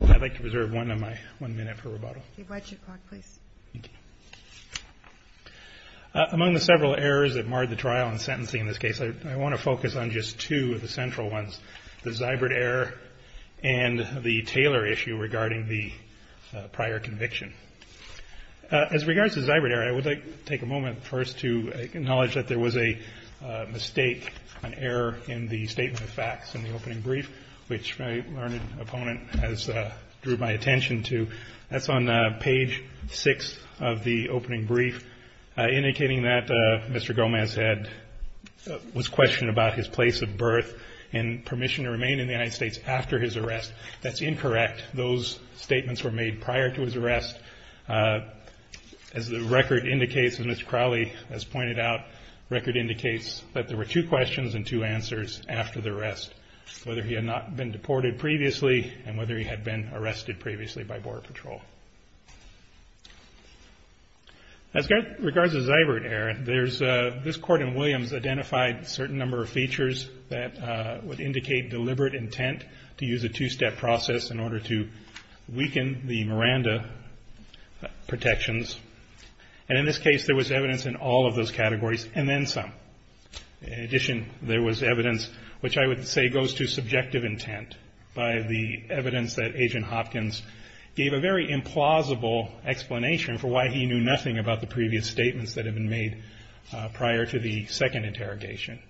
Among the several errors that marred the trial and sentencing in this case, I want to focus on just two of the central ones, the Zybert error and the Taylor issue regarding the prior conviction. As regards to the Zybert error, I would like to take a moment first to acknowledge that there was a mistake, an error in the statement of facts in the opening brief, which my learned opponent has drew my attention to. That's on page 6 of the opening brief, indicating that Mr. Gomez was questioned about his place of birth and permission to remain in the United States after his arrest. That's incorrect. Those statements were made prior to his arrest. As the record indicates, and as Mr. Crowley has pointed out, the record indicates that there were two questions and two answers after the arrest. Whether he had not been deported previously and whether he had been arrested previously by Border Patrol. As regards to the Zybert error, this court in Williams identified a certain number of features that would indicate deliberate intent to use a two-step process in order to weaken the Miranda protections. In this case, there was evidence in all of those categories and then some. In addition, there was evidence which I would say goes to subjective intent by the evidence that Agent Hopkins gave a very implausible explanation for why he knew nothing about the previous statements that had been made prior to the second interrogation.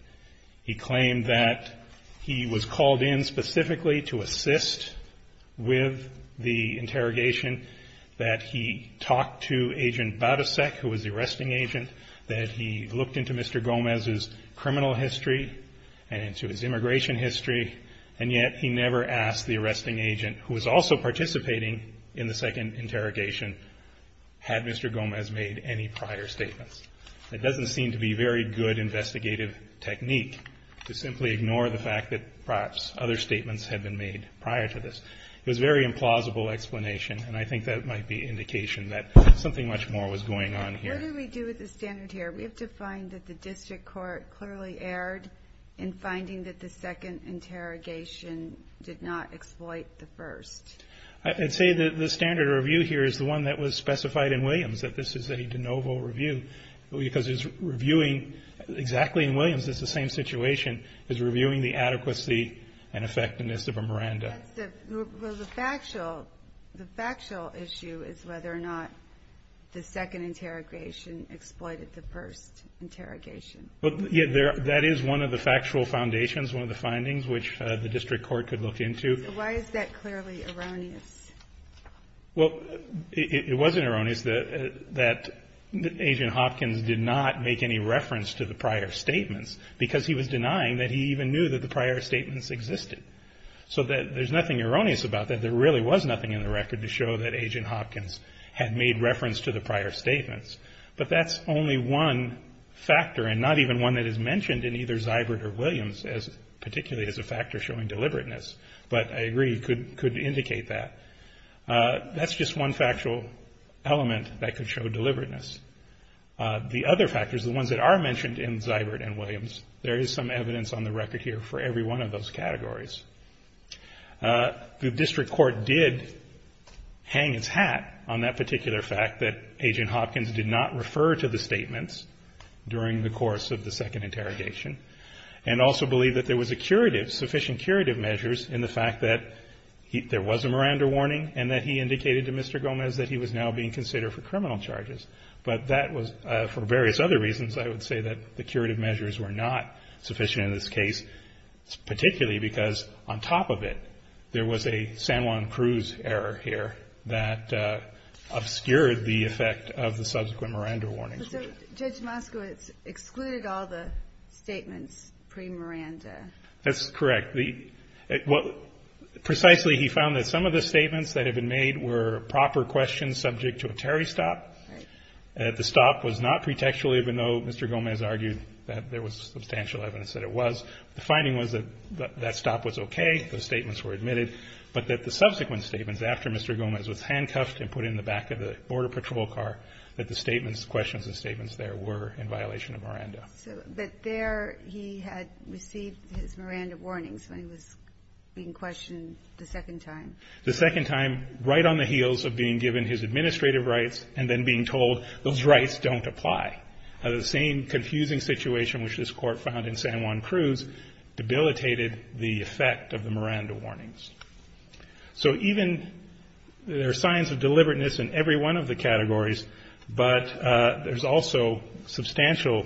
He claimed that he was called in specifically to assist with the interrogation, that he looked into Mr. Gomez's criminal history and into his immigration history, and yet he never asked the arresting agent who was also participating in the second interrogation, had Mr. Gomez made any prior statements. It doesn't seem to be very good investigative technique to simply ignore the fact that perhaps other statements had been made prior to this. It was a very implausible explanation, and I think that might be indication that something much more was going on here. What do we do with the standard here? We have to find that the district court clearly erred in finding that the second interrogation did not exploit the first. I'd say that the standard review here is the one that was specified in Williams, that this is a de novo review, because it's reviewing exactly in Williams, it's the same situation, it's reviewing the adequacy and effectiveness of a Miranda. The factual issue is whether or not the second interrogation exploited the first interrogation. That is one of the factual foundations, one of the findings which the district court could look into. Why is that clearly erroneous? Well, it wasn't erroneous that Agent Hopkins did not make any reference to the prior statements, because he was denying that he even knew that the prior statements existed. So there's nothing erroneous about that. There really was nothing in the record to show that Agent Hopkins had made reference to the prior statements. But that's only one factor, and not even one that is mentioned in either Zybert or Williams, particularly as a factor showing deliberateness. But I agree, you could indicate that. That's just one factual element that could show deliberateness. The other factors, the ones that are mentioned in Zybert and Williams, there is some evidence on the record here for every one of those categories. The district court did hang its hat on that particular fact that Agent Hopkins did not refer to the statements during the course of the second interrogation. And also believe that there was a curative, sufficient curative measures in the fact that there was a Miranda warning, and that he indicated to Mr. Gomez that he was now being considered for criminal charges. But that was, for various other reasons, I would say that the curative measures were not sufficient in this case. Particularly because on top of it, there was a San Juan Cruz error here that obscured the effect of the subsequent Miranda warnings. Judge Moskowitz excluded all the statements pre-Miranda. That's correct. Precisely, he found that some of the statements that have been made were proper questions subject to a Terry stop. The stop was not pretextual even though Mr. Gomez argued that there was substantial evidence that it was. The finding was that that stop was okay, those statements were admitted. But that the subsequent statements after Mr. Gomez was handcuffed and put in the back of the border patrol car, that the statements, questions and statements there were in violation of Miranda. So, but there he had received his Miranda warnings when he was being questioned the second time. The second time, right on the heels of being given his administrative rights and then being told those rights don't apply. And the same confusing situation which this court found in San Juan Cruz debilitated the effect of the Miranda warnings. So even, there are signs of deliberateness in every one of the categories. But there's also substantial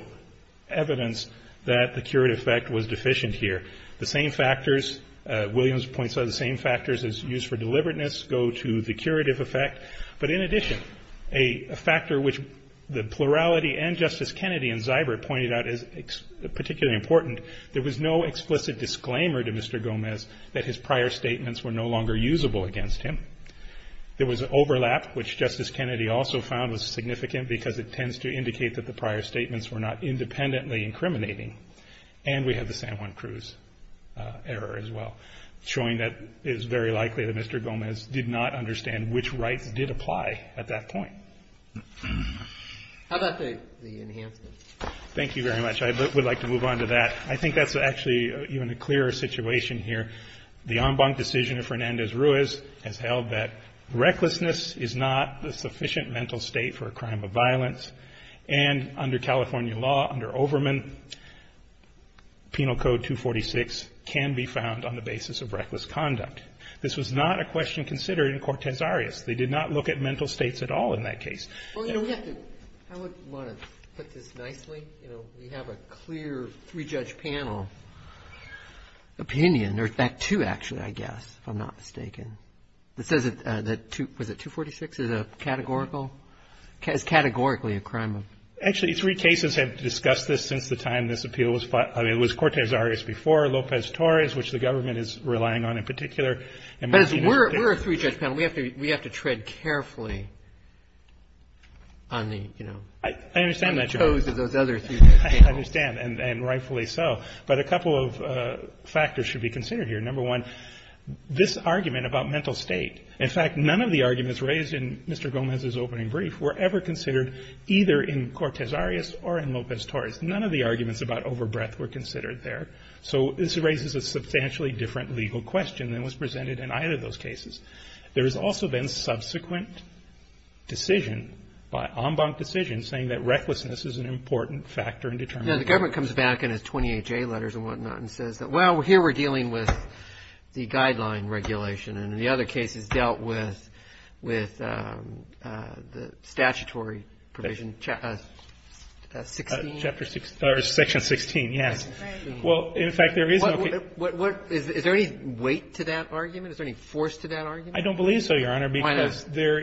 evidence that the curative effect was deficient here. The same factors, Williams points out the same factors as used for deliberateness go to the curative effect. But in addition, a factor which the plurality and Justice Kennedy and Zybert pointed out is particularly important. There was no explicit disclaimer to Mr. Gomez that his prior statements were no longer usable against him. There was an overlap, which Justice Kennedy also found was significant, because it tends to indicate that the prior statements were not independently incriminating. And we have the San Juan Cruz error as well. Showing that it is very likely that Mr. Gomez did not understand which rights did apply at that point. How about the enhancements? Thank you very much. I would like to move on to that. I think that's actually even a clearer situation here. The en banc decision of Fernandez-Ruiz has held that recklessness is not the sufficient mental state for a crime of violence. And under California law, under Overman, Penal Code 246 can be found on the basis of reckless conduct. This was not a question considered in Cortes Arias. They did not look at mental states at all in that case. Well, you know, we have to, I would want to put this nicely. You know, we have a clear three-judge panel opinion, or that too, actually, I guess, if I'm not mistaken. It says that 246 is a categorical, is categorically a crime of. Actually, three cases have discussed this since the time this appeal was fought. I mean, it was Cortes Arias before, Lopez Torres, which the government is relying on in particular. But we're a three-judge panel. We have to tread carefully on the, you know. I understand that, Your Honor. On the toes of those other three-judge panels. I understand, and rightfully so. But a couple of factors should be considered here. Number one, this argument about mental state. In fact, none of the arguments raised in Mr. Gomez's opening brief were ever considered either in Cortes Arias or in Lopez Torres. None of the arguments about over-breath were considered there. So this raises a substantially different legal question than was presented in either of those cases. There has also been subsequent decision, by en banc decision, saying that recklessness is an important factor in determining. Now, the government comes back in its 28-J letters and whatnot and says that, well, here we're dealing with the guideline regulation. And in the other cases dealt with the statutory provision, section 16, yes. Well, in fact, there is no case Is there any weight to that argument? Is there any force to that argument? I don't believe so, Your Honor, because the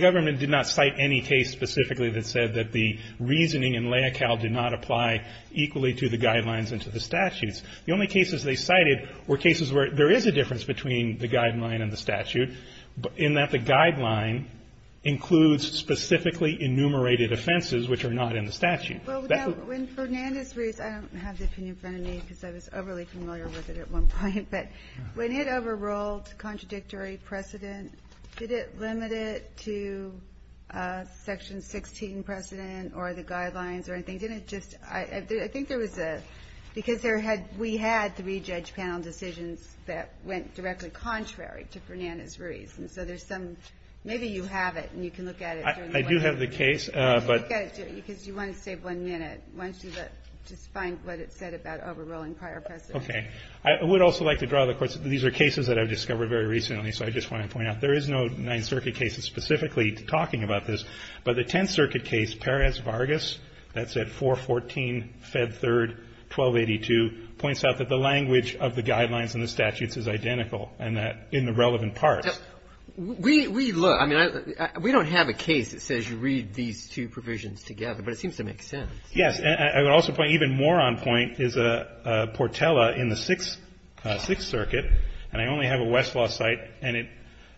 government did not cite any case specifically that said that the reasoning in LAICAL did not apply equally to the guidelines and to the statutes. The only cases they cited were cases where there is a difference between the guideline and the statute in that the guideline includes specifically enumerated offenses which are not in the statute. That's what the question is. Ginsburg. Well, when Fernandez reads, I don't have the opinion in front of me because I was overly familiar with it at one point, but when it overruled contradictory precedent, did it limit it to section 16 precedent or the guidelines or anything? I didn't just, I think there was a, because there had, we had three judge panel decisions that went directly contrary to Fernandez-Ruiz. And so there's some, maybe you have it and you can look at it. I do have the case, but. Because you want to save one minute. Why don't you just find what it said about overruling prior precedent. Okay. I would also like to draw the court's, these are cases that I've discovered very recently, so I just want to point out there is no Ninth Circuit case specifically talking about this. But the Tenth Circuit case, Perez-Vargas, that's at 414 Fed 3rd, 1282, points out that the language of the guidelines and the statutes is identical and that in the relevant parts. We, we look, I mean, we don't have a case that says you read these two provisions together, but it seems to make sense. Yes. I would also point, even more on point is Portela in the Sixth Circuit, and I only have a Westlaw site, and it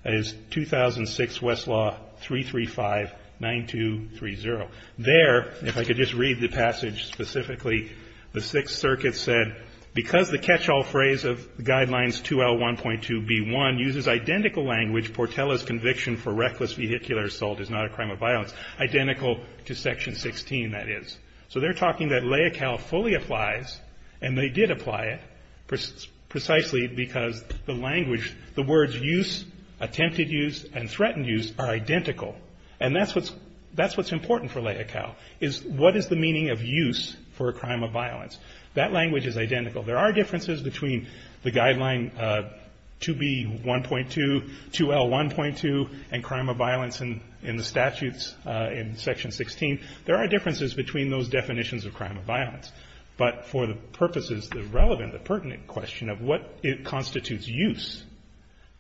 is 2006 Westlaw 3359230. There, if I could just read the passage specifically, the Sixth Circuit said, because the catch-all phrase of Guidelines 2L1.2B1 uses identical language, Portela's conviction for reckless vehicular assault is not a crime of violence. Identical to Section 16, that is. So they're talking that LAICAL fully applies, and they did apply it, precisely because the language, the words use, attempted use, and threatened use are identical. And that's what's, that's what's important for LAICAL, is what is the meaning of use for a crime of violence? That language is identical. There are differences between the Guideline 2B1.2, 2L1.2, and crime of violence in, in the statutes in Section 16. There are differences between those definitions of crime of violence. But for the purposes, the relevant, the pertinent question of what constitutes use,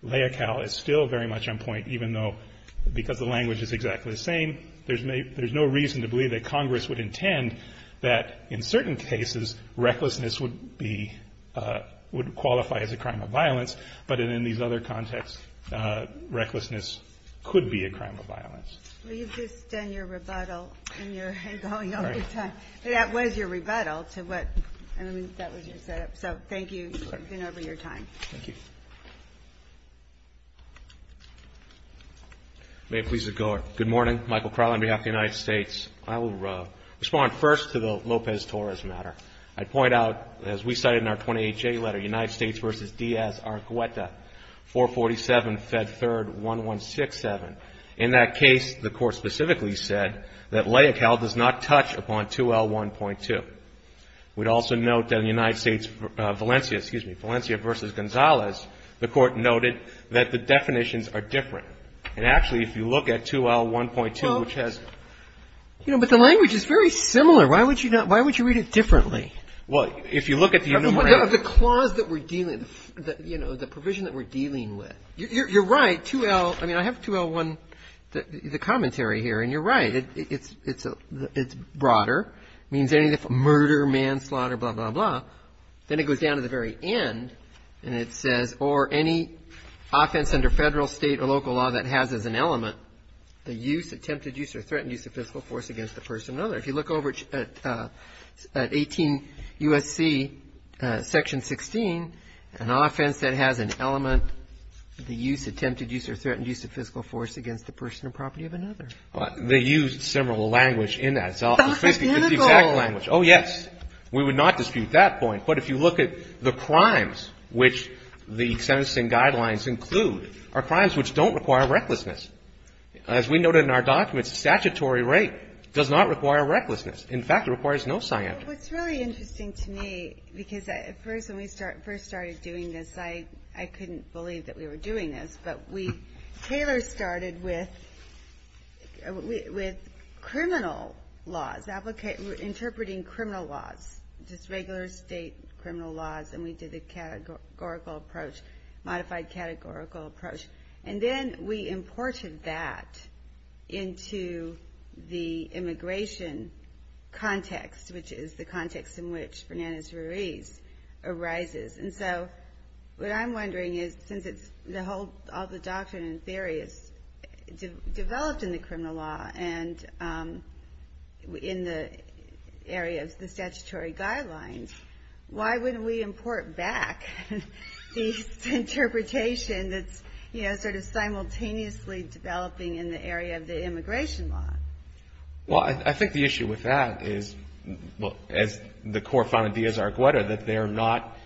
LAICAL is still very much on point, even though, because the language is exactly the same, there's no, there's no reason to believe that Congress would intend that, in certain cases, recklessness would be, would qualify as a crime of violence. But in these other contexts, recklessness could be a crime of violence. Well, you've just done your rebuttal, and you're going over time. That was your rebuttal to what, I mean, that was your setup. So, thank you for taking over your time. Thank you. May it please the court. Good morning. Michael Crowley on behalf of the United States. I will respond first to the Lopez-Torres matter. I'd point out, as we cited in our 28-J letter, United States versus Diaz-Argüeta, 447 Fed 3rd 1167. In that case, the court specifically said that LAICAL does not touch upon 2L1.2. We'd also note that in the United States, Valencia, excuse me, Valencia versus Gonzalez, the court noted that the definitions are different. And actually, if you look at 2L1.2, which has. Well, you know, but the language is very similar. Why would you not, why would you read it differently? Well, if you look at the enumeration. The clause that we're dealing, you know, the provision that we're dealing with. You're, you're right. I mean, I have 2L1, the commentary here. And you're right, it's, it's, it's broader. Means anything from murder, manslaughter, blah, blah, blah. Then it goes down to the very end. And it says, or any offense under federal, state, or local law that has as an element. The use, attempted use, or threatened use of physical force against the person or other. If you look over at 18 USC section 16, an offense that has an element. The use, attempted use, or threatened use of physical force against the person or property of another. They used similar language in that. It's the exact language. Oh yes. We would not dispute that point. But if you look at the crimes, which the sentencing guidelines include, are crimes which don't require recklessness. As we noted in our documents, statutory rape does not require recklessness. In fact, it requires no scientific. What's really interesting to me, because at first, when we first started doing this, I, I couldn't believe that we were doing this. But we, Taylor started with, with criminal laws. Applicate, interpreting criminal laws. Just regular state criminal laws. And we did a categorical approach. Modified categorical approach. And then we imported that into the immigration context. Which is the context in which Fernandez-Ruiz arises. And so, what I'm wondering is, since it's the whole, all the doctrine and theory is developed in the criminal law. And in the area of the statutory guidelines. Why wouldn't we import back the interpretation that's, you know, sort of simultaneously developing in the area of the immigration law? Well, I, I think the issue with that is, well, as the court found in Diaz-Argueta, that they're not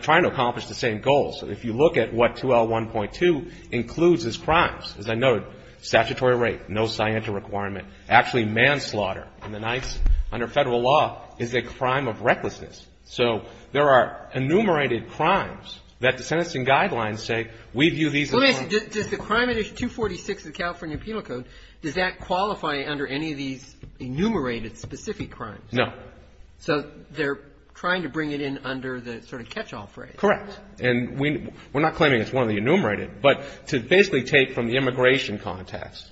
trying to accomplish the same goals. If you look at what 2L1.2 includes as crimes, as I noted, statutory rape, no scientific requirement. Actually, manslaughter in the nights, under federal law, is a crime of recklessness. So, there are enumerated crimes that the sentencing guidelines say, we view these as. Let me ask you, does the Crime Edition 246 of the California Penal Code, does that qualify under any of these enumerated specific crimes? No. So, they're trying to bring it in under the sort of catch-all phrase. Correct. And we, we're not claiming it's one of the enumerated. But to basically take from the immigration context,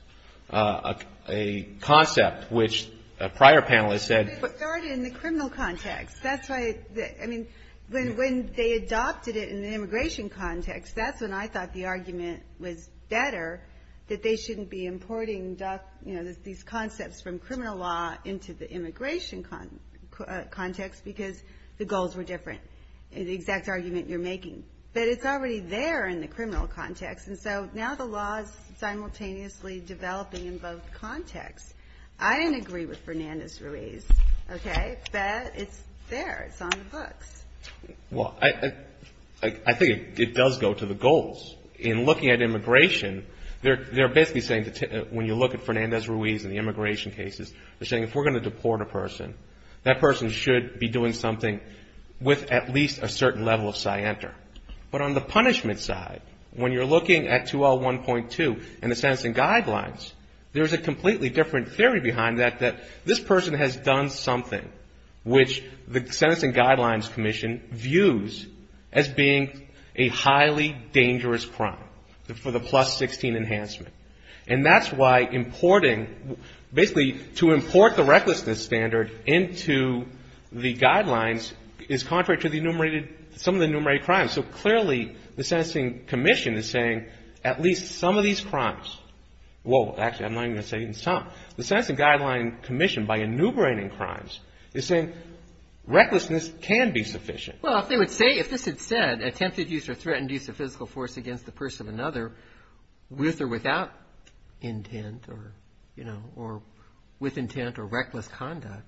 a, a concept which a prior panelist said. But it started in the criminal context. That's why, I mean, when, when they adopted it in the immigration context, that's when I thought the argument was better, that they shouldn't be importing, you know, these concepts from criminal law into the immigration context, because the goals were different, the exact argument you're making. But it's already there in the criminal context. And so, now the law's simultaneously developing in both contexts. I didn't agree with Fernandez-Ruiz, okay? But it's there, it's on the books. Well, I, I, I think it, it does go to the goals. In looking at immigration, they're, they're basically saying that when you look at Fernandez-Ruiz in the immigration cases, they're saying if we're going to deport a person, that person should be doing something with at least a certain level of scienter. But on the punishment side, when you're looking at 2L1.2 and the sentencing guidelines, there's a completely different theory behind that, that this person has done something which the Sentencing Guidelines Commission views as being a highly dangerous crime for the plus 16 enhancement. And that's why importing, basically to import the recklessness standard into the guidelines is contrary to the enumerated, some of the enumerated crimes. So clearly, the Sentencing Commission is saying at least some of these crimes, well, actually I'm not even going to say even some. The Sentencing Guidelines Commission, by enumerating crimes, is saying recklessness can be sufficient. Well, if they would say, if this had said, attempted use or threatened use of physical force against the person of another with or without intent, or, you know, or with intent or reckless conduct,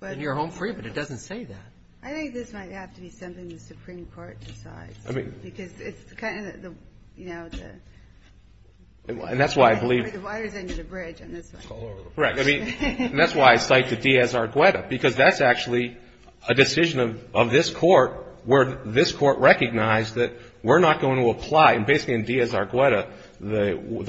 then you're home free. But it doesn't say that. I think this might have to be something the Supreme Court decides, because it's kind of the, you know, the. And that's why I believe. The water's under the bridge on this one. Right. I mean, that's why I cite the Diaz-Argueta, because that's actually a decision of this court where this court recognized that we're not going to apply. And basically, in Diaz-Argueta,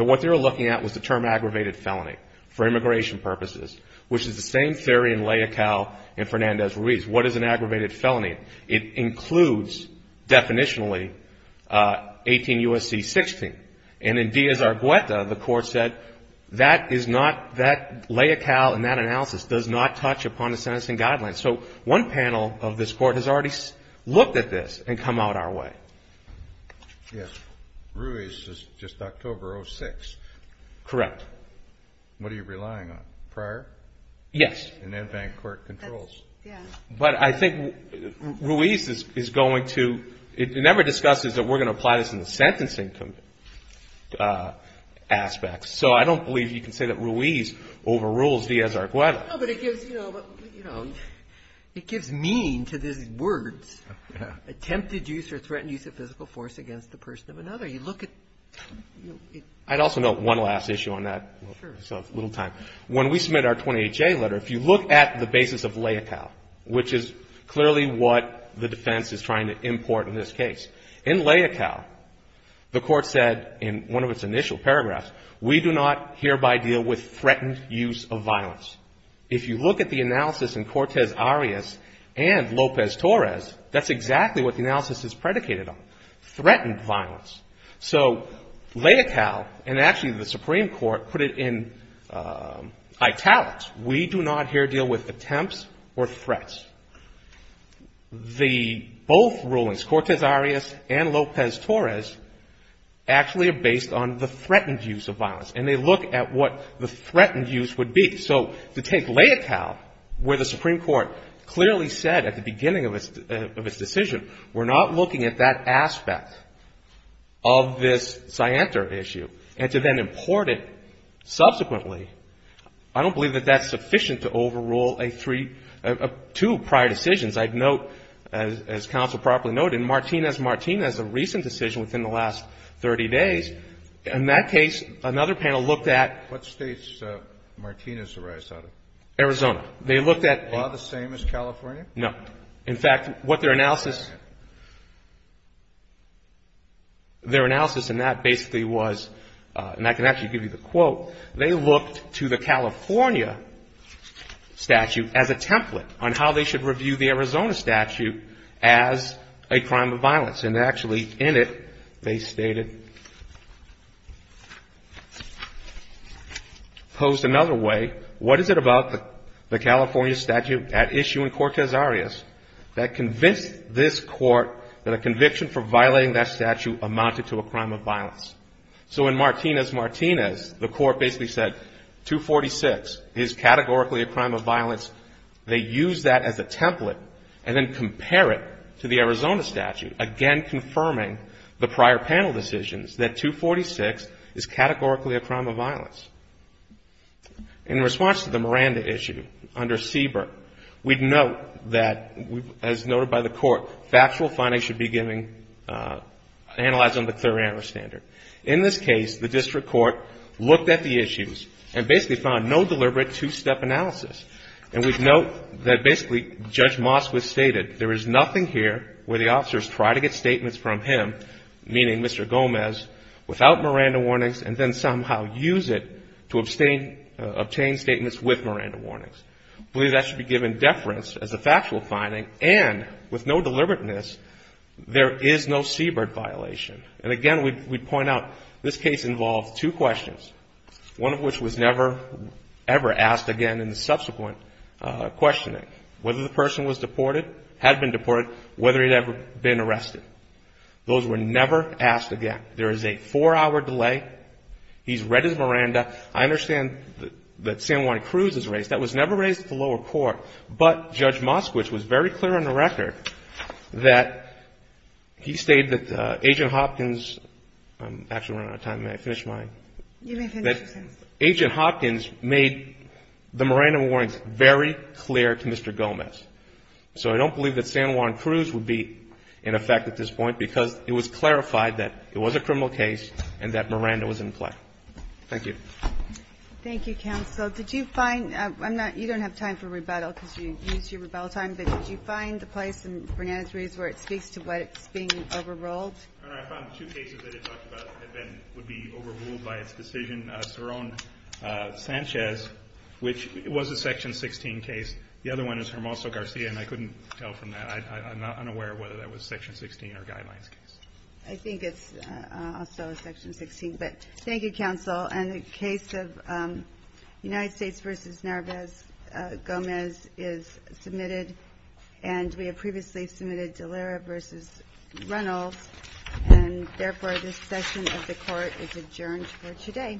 what they were looking at was the term aggravated felony for immigration purposes, which is the same theory in Leocal and Fernandez-Ruiz. What is an aggravated felony? It includes, definitionally, 18 U.S.C. 16. And in Diaz-Argueta, the court said, that is not, that Leocal and that analysis does not touch upon the sentencing guidelines. So one panel of this court has already looked at this and come out our way. Yes. Ruiz is just October 06. Correct. What are you relying on? Prior? Yes. And then bank court controls. Yeah. But I think Ruiz is going to, it never discusses that we're going to apply this in the sentencing. Aspects. So I don't believe you can say that Ruiz overrules Diaz-Argueta. No, but it gives, you know, it gives meaning to these words, attempted use or threatened use of physical force against the person of another. You look at. I'd also note one last issue on that. Sure. So little time. When we submit our 28-J letter, if you look at the basis of Leocal, which is clearly what the defense is trying to import in this case. In Leocal, the court said in one of its initial paragraphs, we do not hereby deal with threatened use of violence. If you look at the analysis in Cortez Arias and Lopez Torres, that's exactly what the analysis is predicated on. Threatened violence. So Leocal and actually the Supreme Court put it in italics. We do not here deal with attempts or threats. The both rulings, Cortez Arias and Lopez Torres, actually are based on the threatened use of violence. And they look at what the threatened use would be. So to take Leocal, where the Supreme Court clearly said at the beginning of its decision, we're not looking at that aspect of this I'd note, as counsel properly noted, Martinez-Martinez, a recent decision within the last 30 days, in that case, another panel looked at What state's Martinez-Arias out of? Arizona. They looked at Are they the same as California? No. In fact, what their analysis, their analysis in that basically was, and I can actually give you the quote, they looked to the California statute as a template on how they should review the Arizona statute as a crime of violence. And actually in it, they stated, posed another way, what is it about the California statute at issue in Cortez Arias that convinced this court that a conviction for violating that statute amounted to a crime of violence? So in Martinez-Martinez, the court basically said, 246 is categorically a crime of violence. They use that as a template and then compare it to the Arizona statute, again, confirming the prior panel decisions that 246 is categorically a crime of violence. In response to the Miranda issue under Siebert, we'd note that, as noted by the court, factual findings should be analyzed on the Miranda standard. In this case, the district court looked at the issues and basically found no deliberate two-step analysis. And we'd note that basically Judge Moskowitz stated there is nothing here where the officers try to get statements from him, meaning Mr. Gomez, without Miranda warnings, and then somehow use it to obtain statements with Miranda warnings. I believe that should be given deference as a factual finding. And with no deliberateness, there is no Siebert violation. And again, we'd point out this case involved two questions, one of which was never ever asked again in the subsequent questioning, whether the person was deported, had been deported, whether he'd ever been arrested. Those were never asked again. There is a four-hour delay. He's read his Miranda. I understand that San Juan Cruz is raised. That was never raised at the lower court. But Judge Moskowitz was very clear on the record that he stated that Agent Hopkins – I'm actually running out of time. May I finish mine? You may finish, Your Honor. Agent Hopkins made the Miranda warnings very clear to Mr. Gomez. So I don't believe that San Juan Cruz would be in effect at this point because it was clarified that it was a criminal case and that Miranda was in play. Thank you. Thank you, counsel. Counsel, did you find – I'm not – you don't have time for rebuttal because you used your rebuttal time, but did you find a place in Bernante's case where it speaks to what's being overruled? Your Honor, I found two cases that it talked about that would be overruled by its decision. Cerrone-Sanchez, which was a Section 16 case. The other one is Hermoso-Garcia, and I couldn't tell from that. I'm not unaware whether that was Section 16 or Guidelines case. But thank you, counsel. And the case of United States v. Narvaez-Gomez is submitted, and we have previously submitted Dallara v. Reynolds, and therefore, this session of the court is adjourned for today. All rise. This court is adjourned. Thank you. Thank you. Thank you. Thank you.